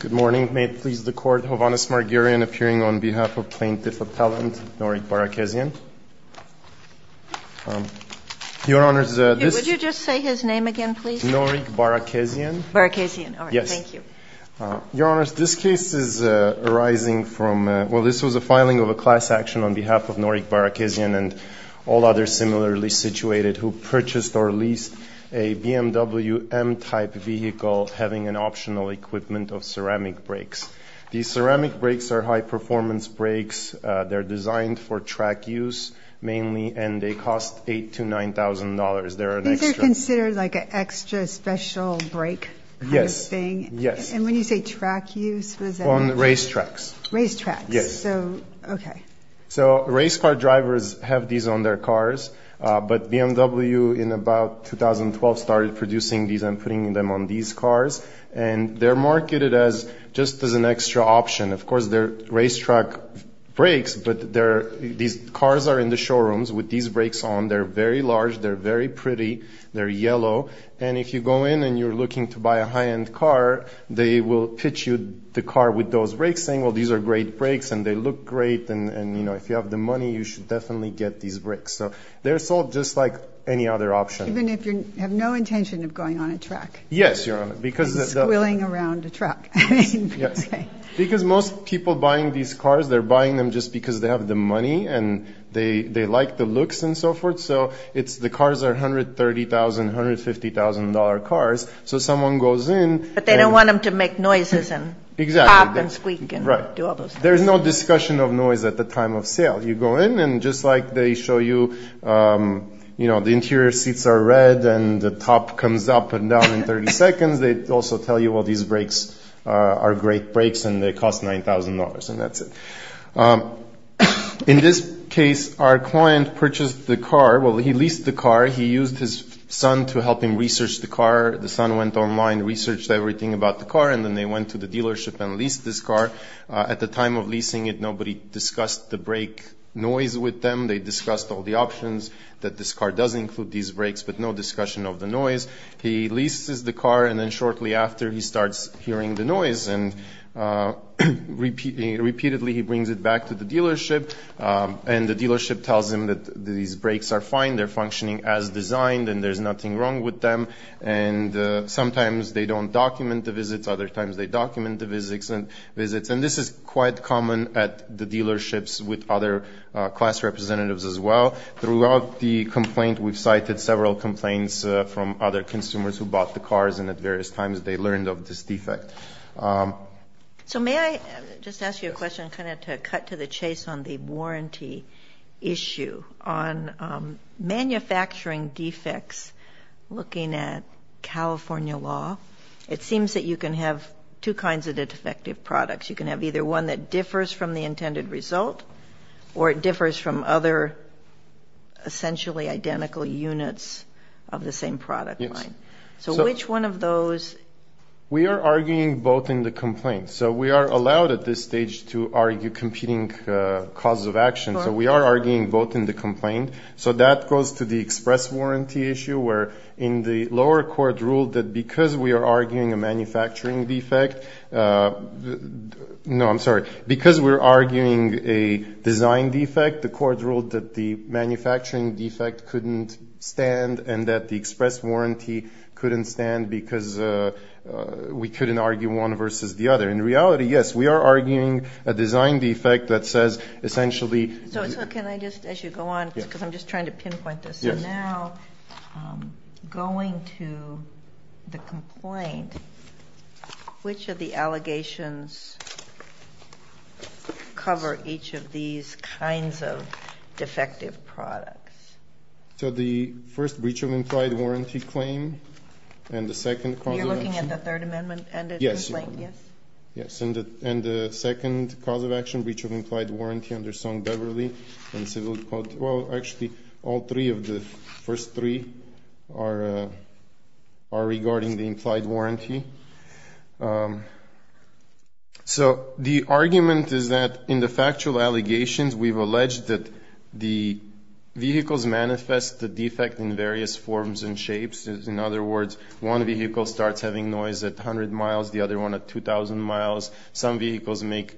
Good morning. May it please the Court, Hovhannes Marguerian appearing on behalf of plaintiff-appellant Norik Barakezyan. Your Honors, this case is arising from, well, this was a filing of a class action on behalf of Norik Barakezyan and all others similarly situated who purchased or leased a BMW M-type vehicle, having an optional equipment of ceramic brakes. These ceramic brakes are high-performance brakes. They're designed for track use mainly, and they cost $8,000 to $9,000. They're an extra. These are considered like an extra special brake kind of thing? And when you say track use, what does that mean? On racetracks. Racetracks. Yes. So, okay. And they're marketed just as an extra option. Of course, they're racetrack brakes, but these cars are in the showrooms with these brakes on. They're very large. They're very pretty. They're yellow. And if you go in and you're looking to buy a high-end car, they will pitch you the car with those brakes saying, well, these are great brakes, and they look great, and, you know, if you have the money, you should definitely get these brakes. So they're sold just like any other option. Even if you have no intention of going on a track? Yes, Your Honor. You're just squirreling around a truck. Yes. Because most people buying these cars, they're buying them just because they have the money, and they like the looks and so forth. So the cars are $130,000, $150,000 cars. So someone goes in. But they don't want them to make noises and pop and squeak and do all those things. Right. There's no discussion of noise at the time of sale. You go in, and just like they show you, you know, the interior seats are red, and the top comes up and down in 30 seconds. They also tell you, well, these brakes are great brakes, and they cost $9,000, and that's it. In this case, our client purchased the car. Well, he leased the car. He used his son to help him research the car. The son went online, researched everything about the car, and then they went to the dealership and leased this car. At the time of leasing it, nobody discussed the brake noise with them. They discussed all the options that this car does include these brakes, but no discussion of the noise. He leases the car, and then shortly after, he starts hearing the noise, and repeatedly he brings it back to the dealership. And the dealership tells him that these brakes are fine, they're functioning as designed, and there's nothing wrong with them. And sometimes they don't document the visits. Other times they document the visits. And this is quite common at the dealerships with other class representatives as well. Throughout the complaint, we've cited several complaints from other consumers who bought the cars, and at various times they learned of this defect. So may I just ask you a question kind of to cut to the chase on the warranty issue on manufacturing defects looking at California law? It seems that you can have two kinds of defective products. You can have either one that differs from the intended result, or it differs from other essentially identical units of the same product line. Yes. So which one of those? We are arguing both in the complaint. So we are allowed at this stage to argue competing causes of action. So we are arguing both in the complaint. So that goes to the express warranty issue where in the lower court ruled that because we are arguing a manufacturing defect – no, I'm sorry. Because we're arguing a design defect, the court ruled that the manufacturing defect couldn't stand and that the express warranty couldn't stand because we couldn't argue one versus the other. In reality, yes, we are arguing a design defect that says essentially – So can I just, as you go on, because I'm just trying to pinpoint this. So now going to the complaint, which of the allegations cover each of these kinds of defective products? So the first breach of implied warranty claim and the second cause of action – You're looking at the Third Amendment end of the complaint, yes? Yes. Yes. And the second cause of action, breach of implied warranty under Song-Beverly and Civil Code – Well, actually, all three of the first three are regarding the implied warranty. So the argument is that in the factual allegations, we've alleged that the vehicles manifest the defect in various forms and shapes. In other words, one vehicle starts having noise at 100 miles, the other one at 2,000 miles. Some vehicles make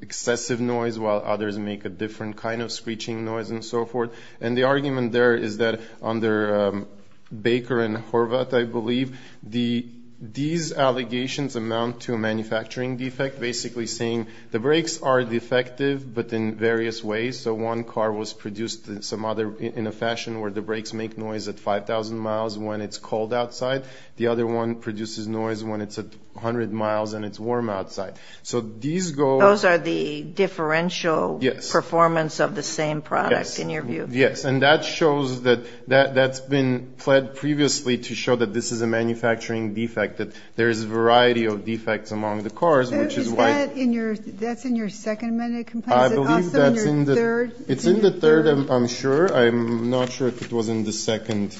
excessive noise, while others make a different kind of screeching noise and so forth. And the argument there is that under Baker and Horvath, I believe, these allegations amount to a manufacturing defect, basically saying the brakes are defective, but in various ways. So one car was produced in a fashion where the brakes make noise at 5,000 miles when it's cold outside. The other one produces noise when it's at 100 miles and it's warm outside. So these go – Those are the differential performance of the same product, in your view? Yes. Yes. And that shows that – that's been pled previously to show that this is a manufacturing defect, that there is a variety of defects among the cars, which is why – Is that in your – that's in your Second Amendment complaint? I believe that's in the – Is it also in your third? It's in the third, I'm sure. I'm not sure if it was in the second.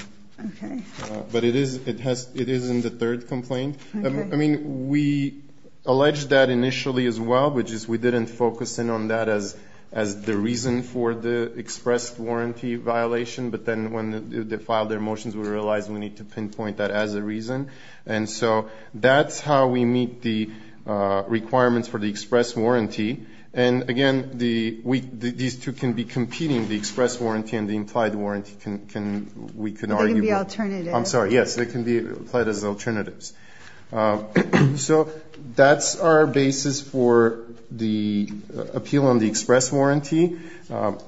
Okay. But it is in the third complaint. Okay. I mean, we alleged that initially as well, but just we didn't focus in on that as the reason for the express warranty violation. But then when they filed their motions, we realized we need to pinpoint that as a reason. And so that's how we meet the requirements for the express warranty. And, again, these two can be competing, the express warranty and the implied warranty, we can argue. They can be alternatives. I'm sorry. Yes, they can be applied as alternatives. So that's our basis for the appeal on the express warranty.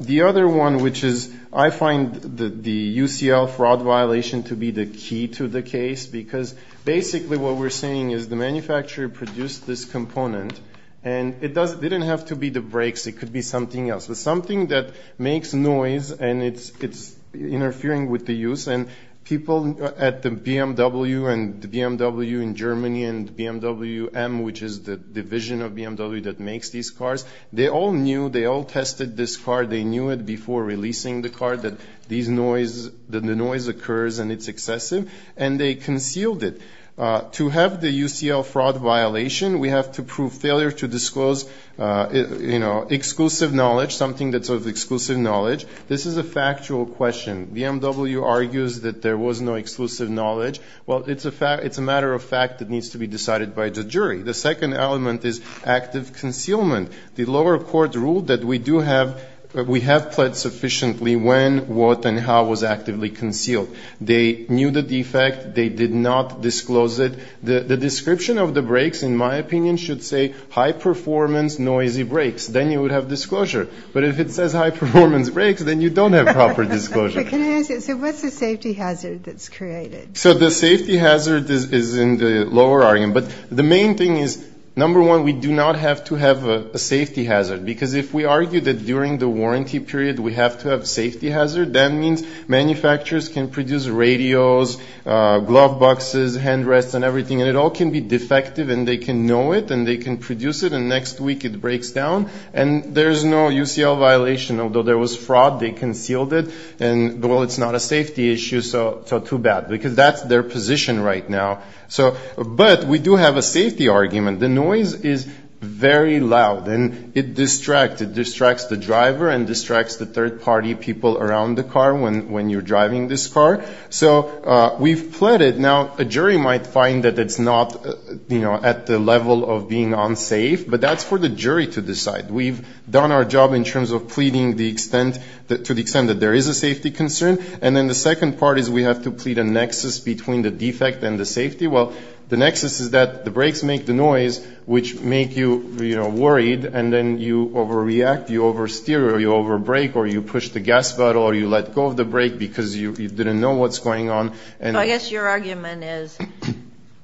The other one, which is I find the UCL fraud violation to be the key to the case, because basically what we're saying is the manufacturer produced this component and it didn't have to be the brakes, it could be something else, but something that makes noise and it's interfering with the use. And people at the BMW and the BMW in Germany and BMW M, which is the division of BMW that makes these cars, they all knew, they all tested this car, they knew it before releasing the car, that the noise occurs and it's excessive, and they concealed it. To have the UCL fraud violation, we have to prove failure to disclose exclusive knowledge, something that's of exclusive knowledge. This is a factual question. BMW argues that there was no exclusive knowledge. Well, it's a matter of fact that needs to be decided by the jury. The second element is active concealment. The lower court ruled that we have pled sufficiently when, what, and how it was actively concealed. They knew the defect. They did not disclose it. The description of the brakes, in my opinion, should say high-performance noisy brakes. Then you would have disclosure. But if it says high-performance brakes, then you don't have proper disclosure. Okay, can I ask you, so what's the safety hazard that's created? So the safety hazard is in the lower argument. But the main thing is, number one, we do not have to have a safety hazard, because if we argue that during the warranty period we have to have safety hazard, that means manufacturers can produce radios, glove boxes, hand rests, and everything, and it all can be defective, and they can know it, and they can produce it, and next week it breaks down, and there's no UCL violation. Although there was fraud, they concealed it. And, well, it's not a safety issue, so too bad, because that's their position right now. But we do have a safety argument. The noise is very loud, and it distracts. It distracts the driver and distracts the third-party people around the car when you're driving this car. So we've pleaded. Now, a jury might find that it's not at the level of being unsafe, but that's for the jury to decide. We've done our job in terms of pleading to the extent that there is a safety concern. And then the second part is we have to plead a nexus between the defect and the safety. Well, the nexus is that the brakes make the noise, which make you worried, and then you overreact, you oversteer, or you overbrake, or you push the gas pedal, or you let go of the brake because you didn't know what's going on. I guess your argument is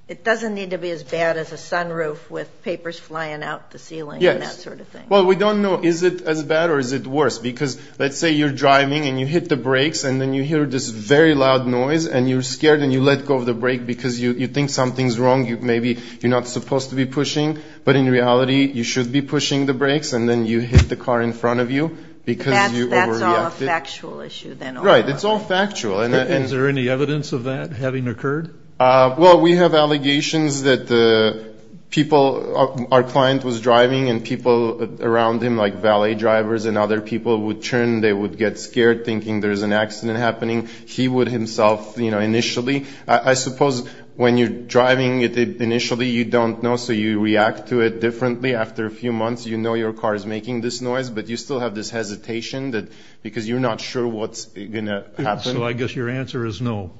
it doesn't need to be as bad as a sunroof with papers flying out the ceiling and that sort of thing. Yes. Well, we don't know, is it as bad or is it worse? Because let's say you're driving, and you hit the brakes, and then you hear this very loud noise, and you're scared, and you let go of the brake because you think something's wrong. Maybe you're not supposed to be pushing, but in reality, you should be pushing the brakes, and then you hit the car in front of you because you overreacted. That's all a factual issue, then. Right. It's all factual. And is there any evidence of that having occurred? Well, we have allegations that the people, our client was driving, and people around him, like valet drivers and other people, would turn. They would get scared, thinking there's an accident happening. He would himself, you know, initially. I suppose when you're driving initially, you don't know, so you react to it differently. After a few months, you know your car is making this noise, but you still have this hesitation because you're not sure what's going to happen. So I guess your answer is no.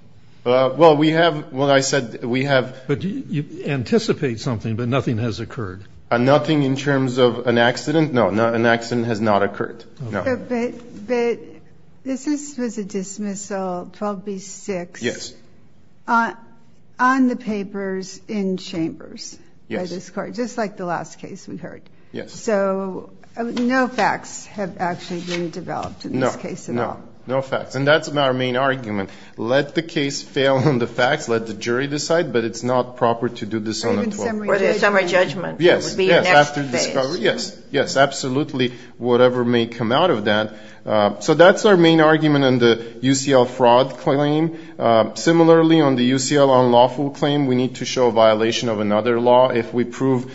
Well, we have what I said. You anticipate something, but nothing has occurred. Nothing in terms of an accident? No, an accident has not occurred. But this was a dismissal, probably six. Yes. On the papers in chambers. Yes. By this court, just like the last case we heard. Yes. So no facts have actually been developed in this case at all. No. No facts. And that's our main argument. Let the case fail on the facts. Let the jury decide. But it's not proper to do this on the 12th. Or the summary judgment. Yes. Yes. After discovery. Yes. Yes, absolutely, whatever may come out of that. So that's our main argument on the UCL fraud claim. Similarly, on the UCL unlawful claim, we need to show a violation of another law. If we prove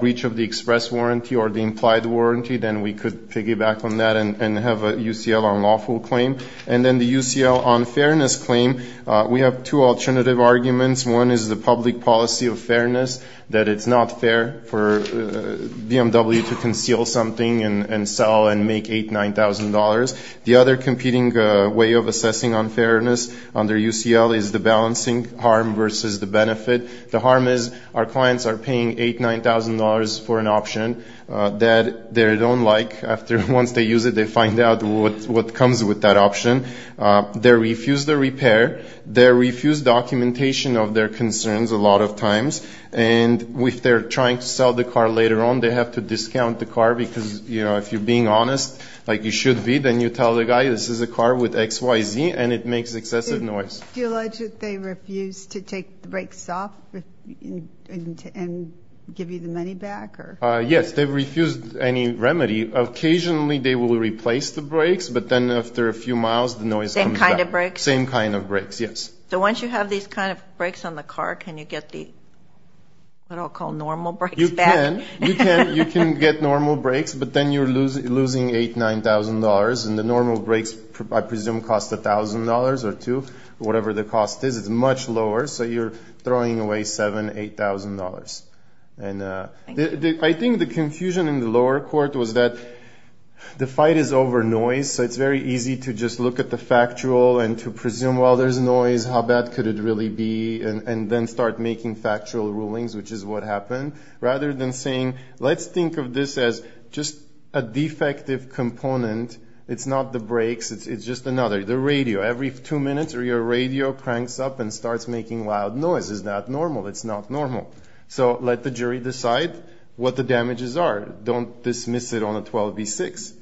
breach of the express warranty or the implied warranty, then we could piggyback on that and have a UCL unlawful claim. And then the UCL unfairness claim, we have two alternative arguments. One is the public policy of fairness, that it's not fair for BMW to conceal something and sell and make $8,000, $9,000. The other competing way of assessing unfairness under UCL is the balancing harm versus the benefit. The harm is our clients are paying $8,000, $9,000 for an option that they don't like. Once they use it, they find out what comes with that option. They refuse the repair. They refuse documentation of their concerns a lot of times. And if they're trying to sell the car later on, they have to discount the car. Because if you're being honest, like you should be, then you tell the guy this is a car with XYZ and it makes excessive noise. Do you allege that they refuse to take the brakes off and give you the money back? Yes, they refuse any remedy. Occasionally, they will replace the brakes, but then after a few miles, the noise comes back. Same kind of brakes? Same kind of brakes, yes. So once you have these kind of brakes on the car, can you get the what I'll call normal brakes back? You can. You can get normal brakes, but then you're losing $8,000, $9,000. And the normal brakes, I presume, cost $1,000 or $2,000, whatever the cost is. It's much lower. So you're throwing away $7,000, $8,000. I think the confusion in the lower court was that the fight is over noise. So it's very easy to just look at the factual and to presume, well, there's noise. How bad could it really be? And then start making factual rulings, which is what happened. Rather than saying, let's think of this as just a defective component. It's not the brakes. It's just another. The radio. Every two minutes, your radio cranks up and starts making loud noise. Is that normal? It's not normal. So let the jury decide what the damages are. Don't dismiss it on a 12B6.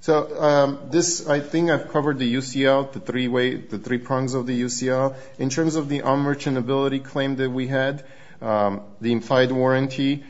So this, I think I've covered the UCL, the three prongs of the UCL. In terms of the on-merchant ability claim that we had, the implied warranty,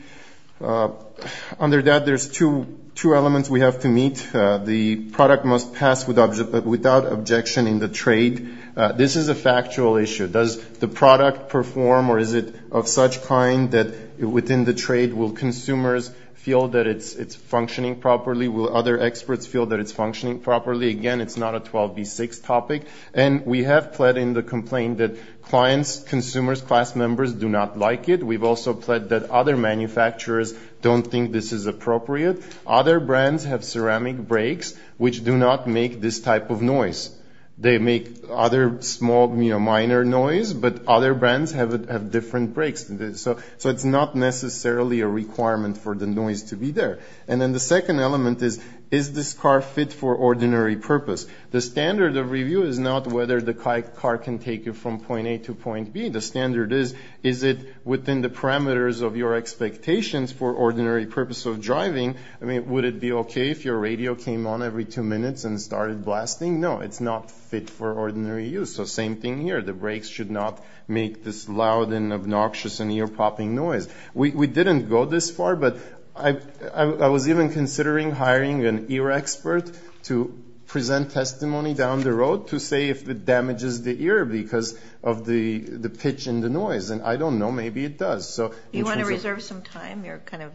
under that there's two elements we have to meet. The product must pass without objection in the trade. This is a factual issue. Does the product perform or is it of such kind that within the trade, will consumers feel that it's functioning properly? Will other experts feel that it's functioning properly? Again, it's not a 12B6 topic. And we have pled in the complaint that clients, consumers, class members, do not like it. We've also pled that other manufacturers don't think this is appropriate. Other brands have ceramic brakes, which do not make this type of noise. They make other small, minor noise, but other brands have different brakes. So it's not necessarily a requirement for the noise to be there. And then the second element is, is this car fit for ordinary purpose? The standard of review is not whether the car can take you from point A to point B. The standard is, is it within the parameters of your expectations for ordinary purpose of driving? I mean, would it be okay if your radio came on every two minutes and started blasting? No, it's not fit for ordinary use. So same thing here. The brakes should not make this loud and obnoxious and ear-popping noise. We didn't go this far, but I was even considering hiring an ear expert to present testimony down the road to say if it damages the ear because of the pitch and the noise. And I don't know. Maybe it does. You want to reserve some time? You're kind of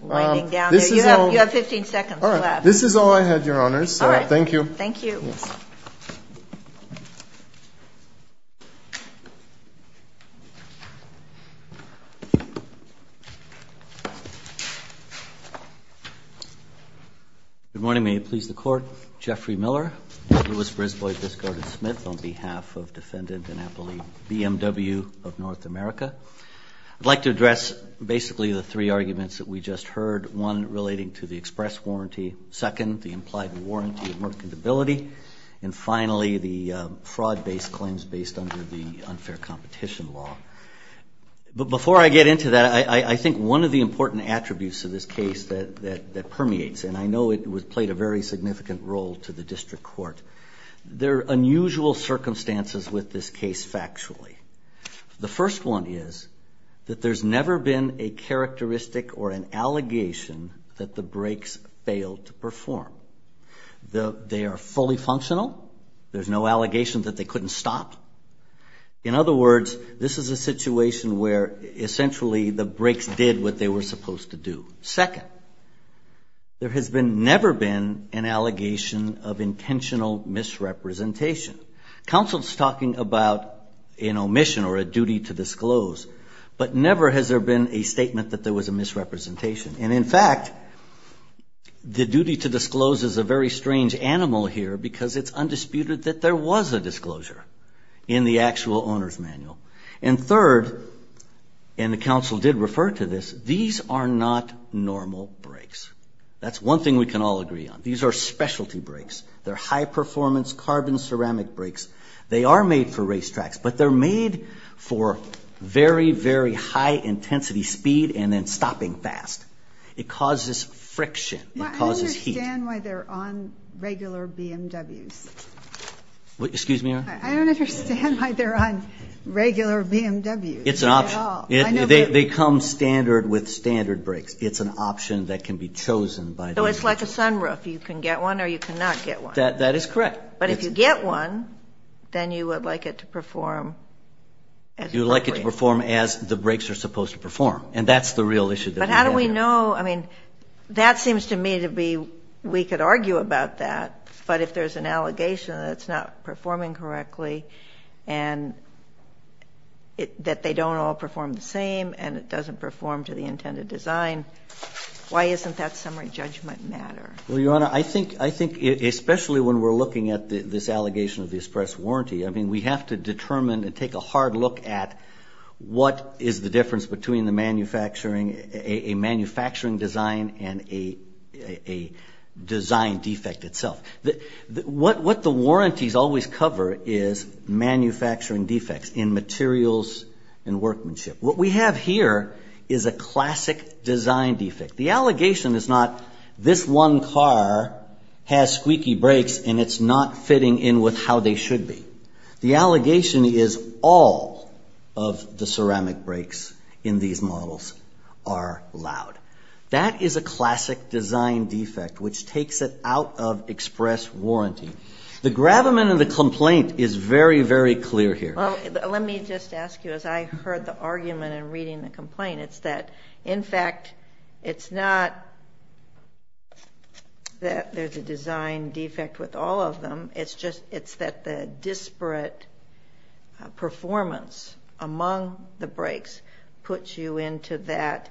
winding down here. You have 15 seconds left. This is all I had, Your Honors. All right. Thank you. Thank you. Yes. Good morning. May it please the Court. Jeffrey Miller, Lewis, Brisbois, Biscard, and Smith on behalf of Defendant Annapoli BMW of North America. I'd like to address basically the three arguments that we just heard, one relating to the express warranty, the second, the implied warranty of mercantility, and finally the fraud-based claims based under the unfair competition law. But before I get into that, I think one of the important attributes of this case that permeates, and I know it played a very significant role to the District Court, there are unusual circumstances with this case factually. The first one is that there's never been a characteristic or an allegation that the brakes failed to perform. They are fully functional. There's no allegation that they couldn't stop. In other words, this is a situation where essentially the brakes did what they were supposed to do. Second, there has never been an allegation of intentional misrepresentation. Counsel is talking about an omission or a duty to disclose, but never has there been a statement that there was a misrepresentation. And in fact, the duty to disclose is a very strange animal here because it's undisputed that there was a disclosure in the actual Owner's Manual. And third, and the counsel did refer to this, these are not normal brakes. That's one thing we can all agree on. These are specialty brakes. They're high-performance carbon ceramic brakes. They are made for racetracks, but they're made for very, very high-intensity speed and then stopping fast. It causes friction. It causes heat. I don't understand why they're on regular BMWs. Excuse me, Your Honor? I don't understand why they're on regular BMWs at all. It's an option. They come standard with standard brakes. It's an option that can be chosen by the individual. So it's like a sunroof. You can get one or you cannot get one. That is correct. But if you get one, then you would like it to perform as a brake. You would like it to perform as the brakes are supposed to perform, and that's the real issue that we have here. But how do we know? I mean, that seems to me to be we could argue about that, but if there's an allegation that it's not performing correctly and that they don't all perform the same and it doesn't perform to the intended design, why isn't that summary judgment matter? Well, Your Honor, I think especially when we're looking at this allegation of the express warranty, I mean we have to determine and take a hard look at what is the difference between a manufacturing design and a design defect itself. What the warranties always cover is manufacturing defects in materials and workmanship. What we have here is a classic design defect. The allegation is not this one car has squeaky brakes and it's not fitting in with how they should be. The allegation is all of the ceramic brakes in these models are loud. That is a classic design defect, which takes it out of express warranty. The gravamen of the complaint is very, very clear here. Well, let me just ask you, as I heard the argument in reading the complaint, it's that, in fact, it's not that there's a design defect with all of them. It's that the disparate performance among the brakes puts you into that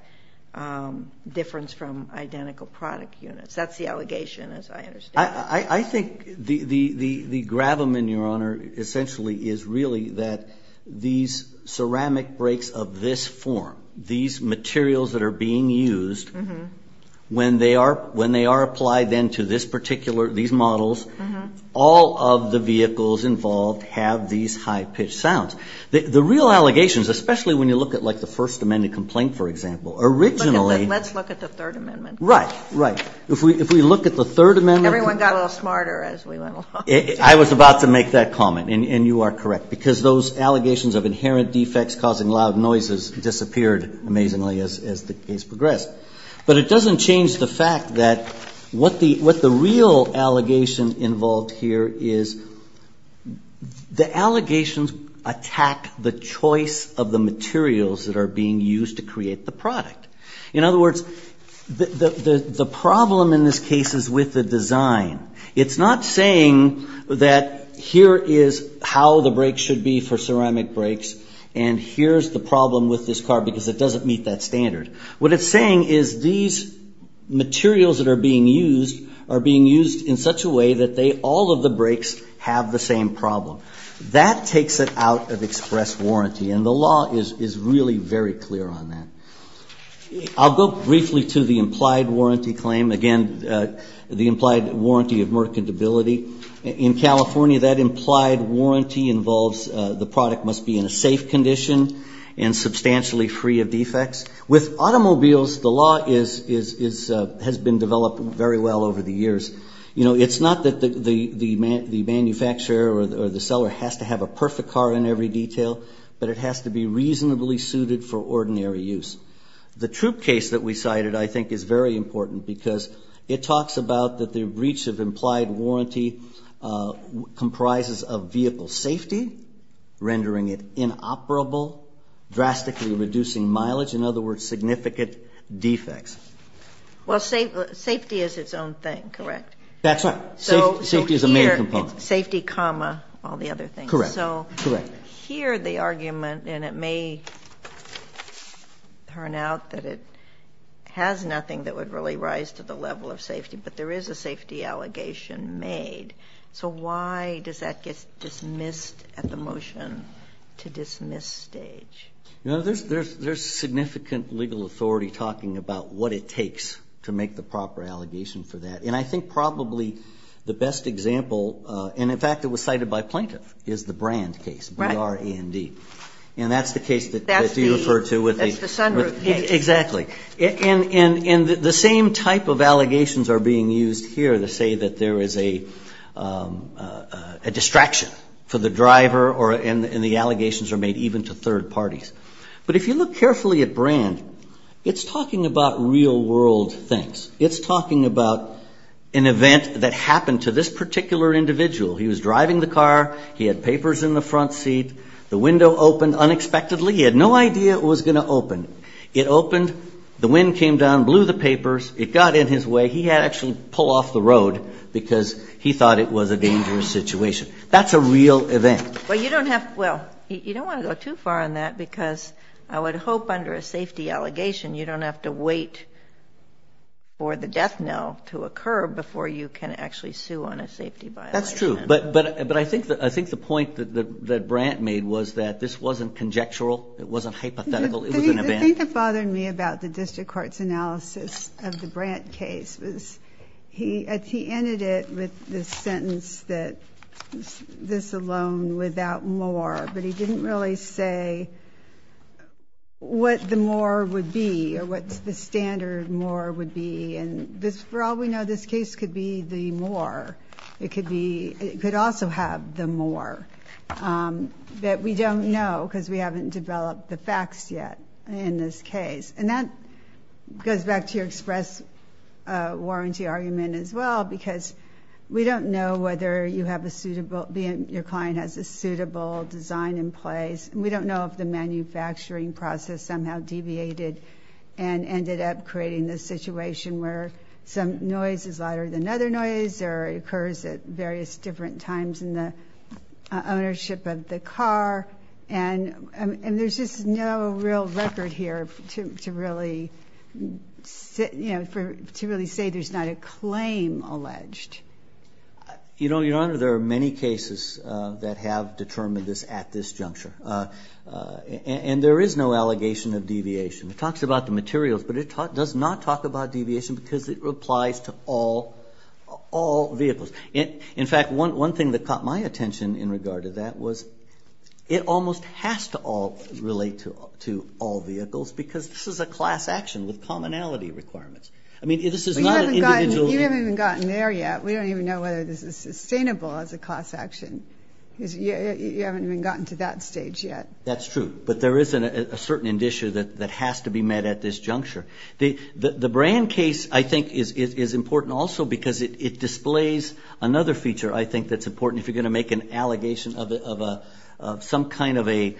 difference from identical product units. That's the allegation, as I understand it. I think the gravamen, Your Honor, essentially is really that these ceramic brakes of this form, these materials that are being used, when they are applied then to these models, all of the vehicles involved have these high-pitched sounds. The real allegations, especially when you look at, like, the First Amendment complaint, for example, originally. Let's look at the Third Amendment. Right, right. If we look at the Third Amendment. Everyone got a little smarter as we went along. I was about to make that comment, and you are correct, because those allegations of inherent defects causing loud noises disappeared amazingly as the case progressed. But it doesn't change the fact that what the real allegation involved here is the allegations attack the choice of the materials that are being used to create the product. In other words, the problem in this case is with the design. It's not saying that here is how the brakes should be for ceramic brakes and here's the problem with this car because it doesn't meet that standard. What it's saying is these materials that are being used are being used in such a way that all of the brakes have the same problem. That takes it out of express warranty, and the law is really very clear on that. I'll go briefly to the implied warranty claim. Again, the implied warranty of mercantility. In California, that implied warranty involves the product must be in a safe condition and substantially free of defects. With automobiles, the law has been developed very well over the years. It's not that the manufacturer or the seller has to have a perfect car in every detail, but it has to be reasonably suited for ordinary use. The troop case that we cited, I think, is very important because it talks about that the breach of implied warranty comprises of vehicle safety, rendering it inoperable, drastically reducing mileage, in other words, significant defects. Well, safety is its own thing, correct? That's right. Safety is a main component. Safety, comma, all the other things. Correct. So here the argument, and it may turn out that it has nothing that would really rise to the level of safety, but there is a safety allegation made. So why does that get dismissed at the motion-to-dismiss stage? There's significant legal authority talking about what it takes to make the proper allegation for that. And I think probably the best example, and in fact it was cited by plaintiff, is the Brand case, B-R-A-N-D. And that's the case that you refer to. That's the sunroof case. Exactly. And the same type of allegations are being used here to say that there is a distraction for the driver and the allegations are made even to third parties. But if you look carefully at Brand, it's talking about real-world things. It's talking about an event that happened to this particular individual. He was driving the car. He had papers in the front seat. The window opened unexpectedly. He had no idea it was going to open. It opened. The wind came down, blew the papers. It got in his way. He had to actually pull off the road because he thought it was a dangerous situation. That's a real event. Well, you don't have to go too far on that because I would hope under a safety allegation you don't have to wait for the death knell to occur before you can actually sue on a safety violation. That's true. But I think the point that Brand made was that this wasn't conjectural. It wasn't hypothetical. It was an event. The thing that bothered me about the district court's analysis of the Brand case was he ended it with the sentence that this alone without more. But he didn't really say what the more would be or what the standard more would be. And for all we know, this case could be the more. It could also have the more. But we don't know because we haven't developed the facts yet in this case. And that goes back to your express warranty argument as well because we don't know whether your client has a suitable design in place. We don't know if the manufacturing process somehow deviated and ended up creating this situation where some noise is louder than other noise or it occurs at various different times in the ownership of the car. And there's just no real record here to really say there's not a claim alleged. Your Honor, there are many cases that have determined this at this juncture. And there is no allegation of deviation. It talks about the materials, but it does not talk about deviation because it applies to all vehicles. In fact, one thing that caught my attention in regard to that was it almost has to relate to all vehicles because this is a class action with commonality requirements. I mean, this is not an individual. You haven't even gotten there yet. We don't even know whether this is sustainable as a class action. You haven't even gotten to that stage yet. That's true. But there is a certain issue that has to be met at this juncture. The brand case, I think, is important also because it displays another feature, I think, that's important if you're going to make an allegation of some kind of a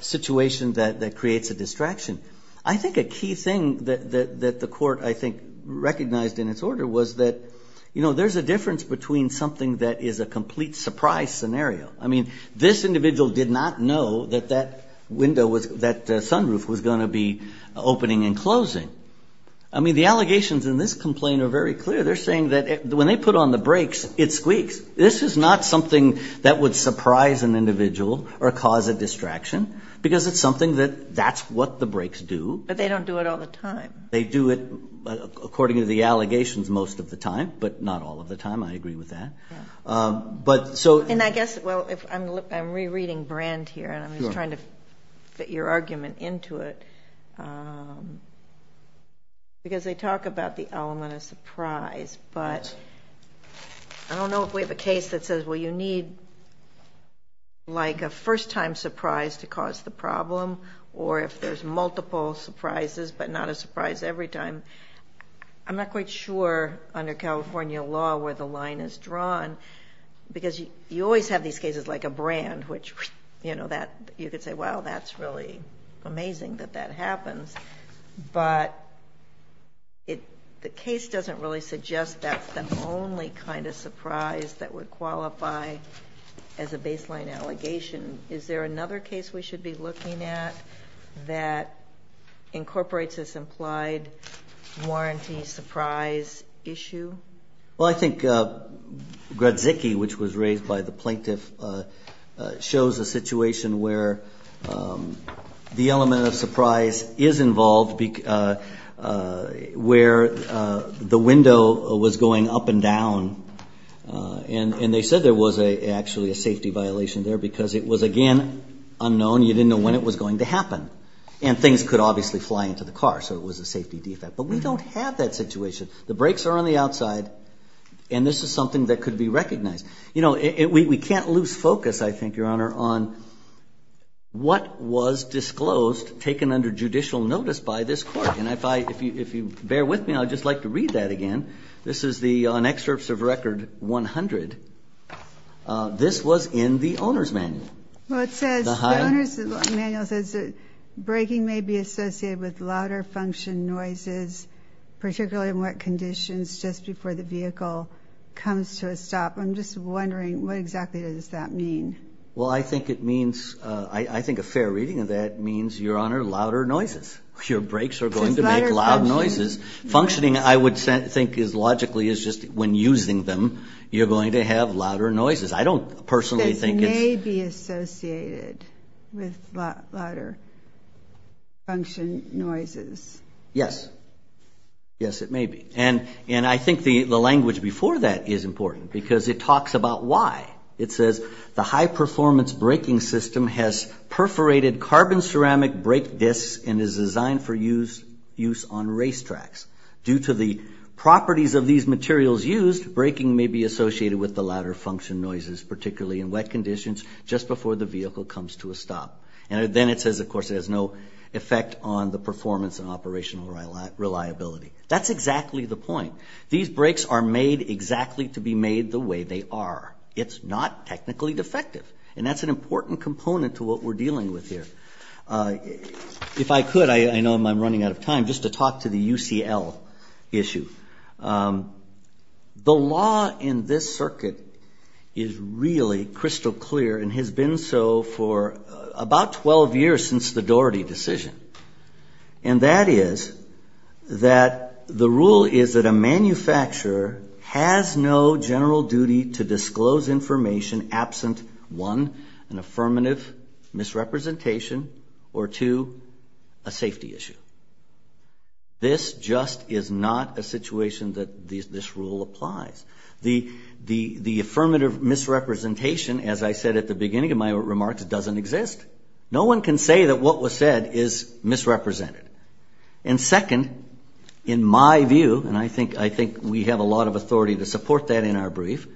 situation that creates a distraction. I think a key thing that the court, I think, recognized in its order was that there's a difference between something that is a complete surprise scenario. I mean, this individual did not know that that sunroof was going to be opening and closing. I mean, the allegations in this complaint are very clear. They're saying that when they put on the brakes, it squeaks. This is not something that would surprise an individual or cause a distraction because it's something that that's what the brakes do. But they don't do it all the time. They do it according to the allegations most of the time, but not all of the time. I agree with that. And I guess, well, I'm rereading brand here and I'm just trying to fit your argument into it because they talk about the element of surprise. But I don't know if we have a case that says, well, you need like a first-time surprise to cause the problem or if there's multiple surprises but not a surprise every time. I'm not quite sure under California law where the line is drawn because you always have these cases like a brand which, you know, that you could say, wow, that's really amazing that that happens. But the case doesn't really suggest that's the only kind of surprise that would qualify as a baseline allegation. Is there another case we should be looking at that incorporates this implied warranty surprise issue? Well, I think Grudzicki, which was raised by the plaintiff, shows a situation where the element of surprise is involved where the window was going up and down. And they said there was actually a safety violation there because it was, again, unknown. You didn't know when it was going to happen. And things could obviously fly into the car, so it was a safety defect. But we don't have that situation. The brakes are on the outside, and this is something that could be recognized. You know, we can't lose focus, I think, Your Honor, on what was disclosed, taken under judicial notice by this court. And if you bear with me, I'd just like to read that again. This is on excerpts of Record 100. This was in the owner's manual. Well, it says, the owner's manual says that braking may be associated with louder function noises, particularly in wet conditions, just before the vehicle comes to a stop. I'm just wondering, what exactly does that mean? Well, I think it means, I think a fair reading of that means, Your Honor, louder noises. Your brakes are going to make loud noises. Functioning, I would think, logically is just when using them, you're going to have louder noises. I don't personally think it's... associated with louder function noises. Yes. Yes, it may be. And I think the language before that is important, because it talks about why. It says, the high-performance braking system has perforated carbon ceramic brake discs and is designed for use on racetracks. Due to the properties of these materials used, braking may be associated with the louder And then it says, of course, it has no effect on the performance and operational reliability. That's exactly the point. These brakes are made exactly to be made the way they are. It's not technically defective. And that's an important component to what we're dealing with here. If I could, I know I'm running out of time, just to talk to the UCL issue. The law in this circuit is really crystal clear and has been so for about 12 years since the Doherty decision. And that is that the rule is that a manufacturer has no general duty to disclose information absent, one, an affirmative misrepresentation, or two, a safety issue. This just is not a situation that this rule applies. The affirmative misrepresentation, as I said at the beginning of my remarks, doesn't exist. No one can say that what was said is misrepresented. And second, in my view, and I think we have a lot of authority to support that in our brief,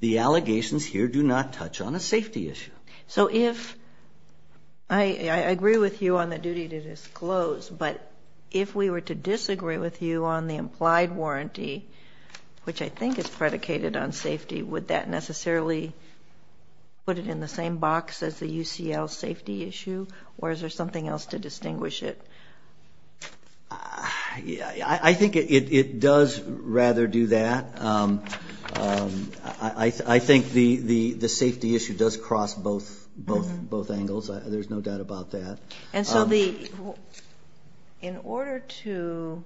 the allegations here do not touch on a safety issue. So if I agree with you on the duty to disclose, but if we were to disagree with you on the implied warranty, which I think is predicated on safety, would that necessarily put it in the same box as the UCL safety issue? Or is there something else to distinguish it? I think it does rather do that. I think the safety issue does cross both angles. There's no doubt about that. And so in order to,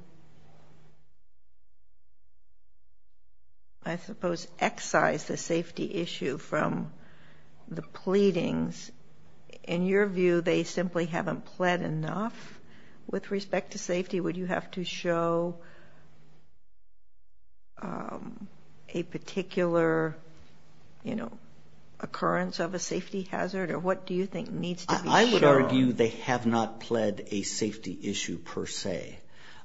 I suppose, excise the safety issue from the pleadings, in your view they simply haven't pled enough with respect to safety? Would you have to show a particular, you know, occurrence of a safety hazard? Or what do you think needs to be shown? I would argue they have not pled a safety issue per se.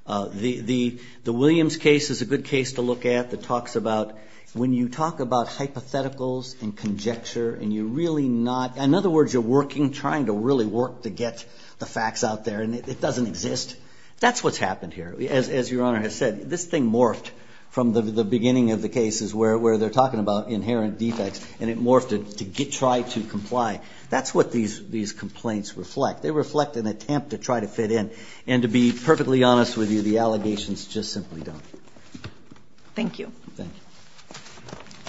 The Williams case is a good case to look at that talks about when you talk about hypotheticals and conjecture and you're really not, in other words, you're working, trying to really work to get the facts out there and it doesn't exist. That's what's happened here. As Your Honor has said, this thing morphed from the beginning of the cases where they're talking about inherent defects and it morphed to try to comply. That's what these complaints reflect. They reflect an attempt to try to fit in. And to be perfectly honest with you, the allegations just simply don't. Thank you. Thank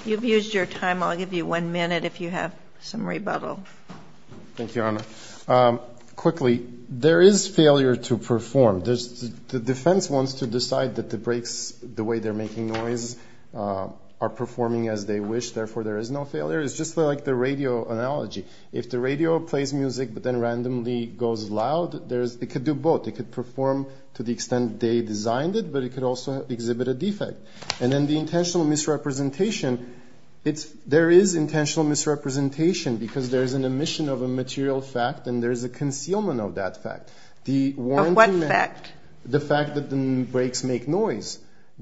you. You've used your time. Thank you, Your Honor. Quickly, there is failure to perform. The defense wants to decide that the brakes, the way they're making noise, are performing as they wish, therefore there is no failure. It's just like the radio analogy. If the radio plays music but then randomly goes loud, it could do both. It could perform to the extent they designed it, but it could also exhibit a defect. And then the intentional misrepresentation, there is intentional misrepresentation because there is an omission of a material fact and there is a concealment of that fact. Of what fact? The fact that the brakes make noise.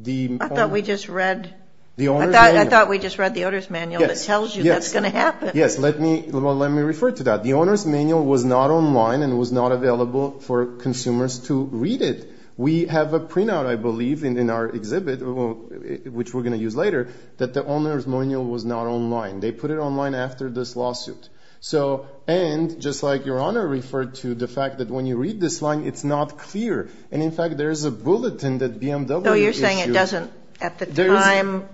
I thought we just read the Owner's Manual. I thought we just read the Owner's Manual that tells you that's going to happen. Yes. Let me refer to that. The Owner's Manual was not online and was not available for consumers to read it. We have a printout, I believe, in our exhibit, which we're going to use later, that the Owner's Manual was not online. They put it online after this lawsuit. And just like Your Honor referred to, the fact that when you read this line, it's not clear. And, in fact, there is a bulletin that BMW issued. So you're saying it doesn't, at the time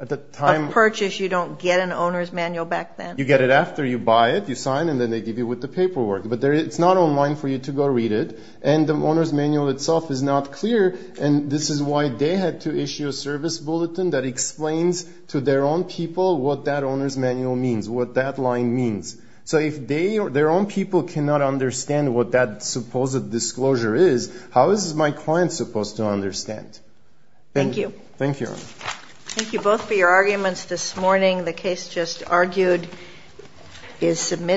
of purchase, you don't get an Owner's Manual back then? You get it after you buy it. You sign and then they give you with the paperwork. But it's not online for you to go read it. And the Owner's Manual itself is not clear, and this is why they had to issue a service bulletin that explains to their own people what that Owner's Manual means, what that line means. So if their own people cannot understand what that supposed disclosure is, how is my client supposed to understand? Thank you. Thank you, Your Honor. Thank you both for your arguments this morning. The case just argued is submitted.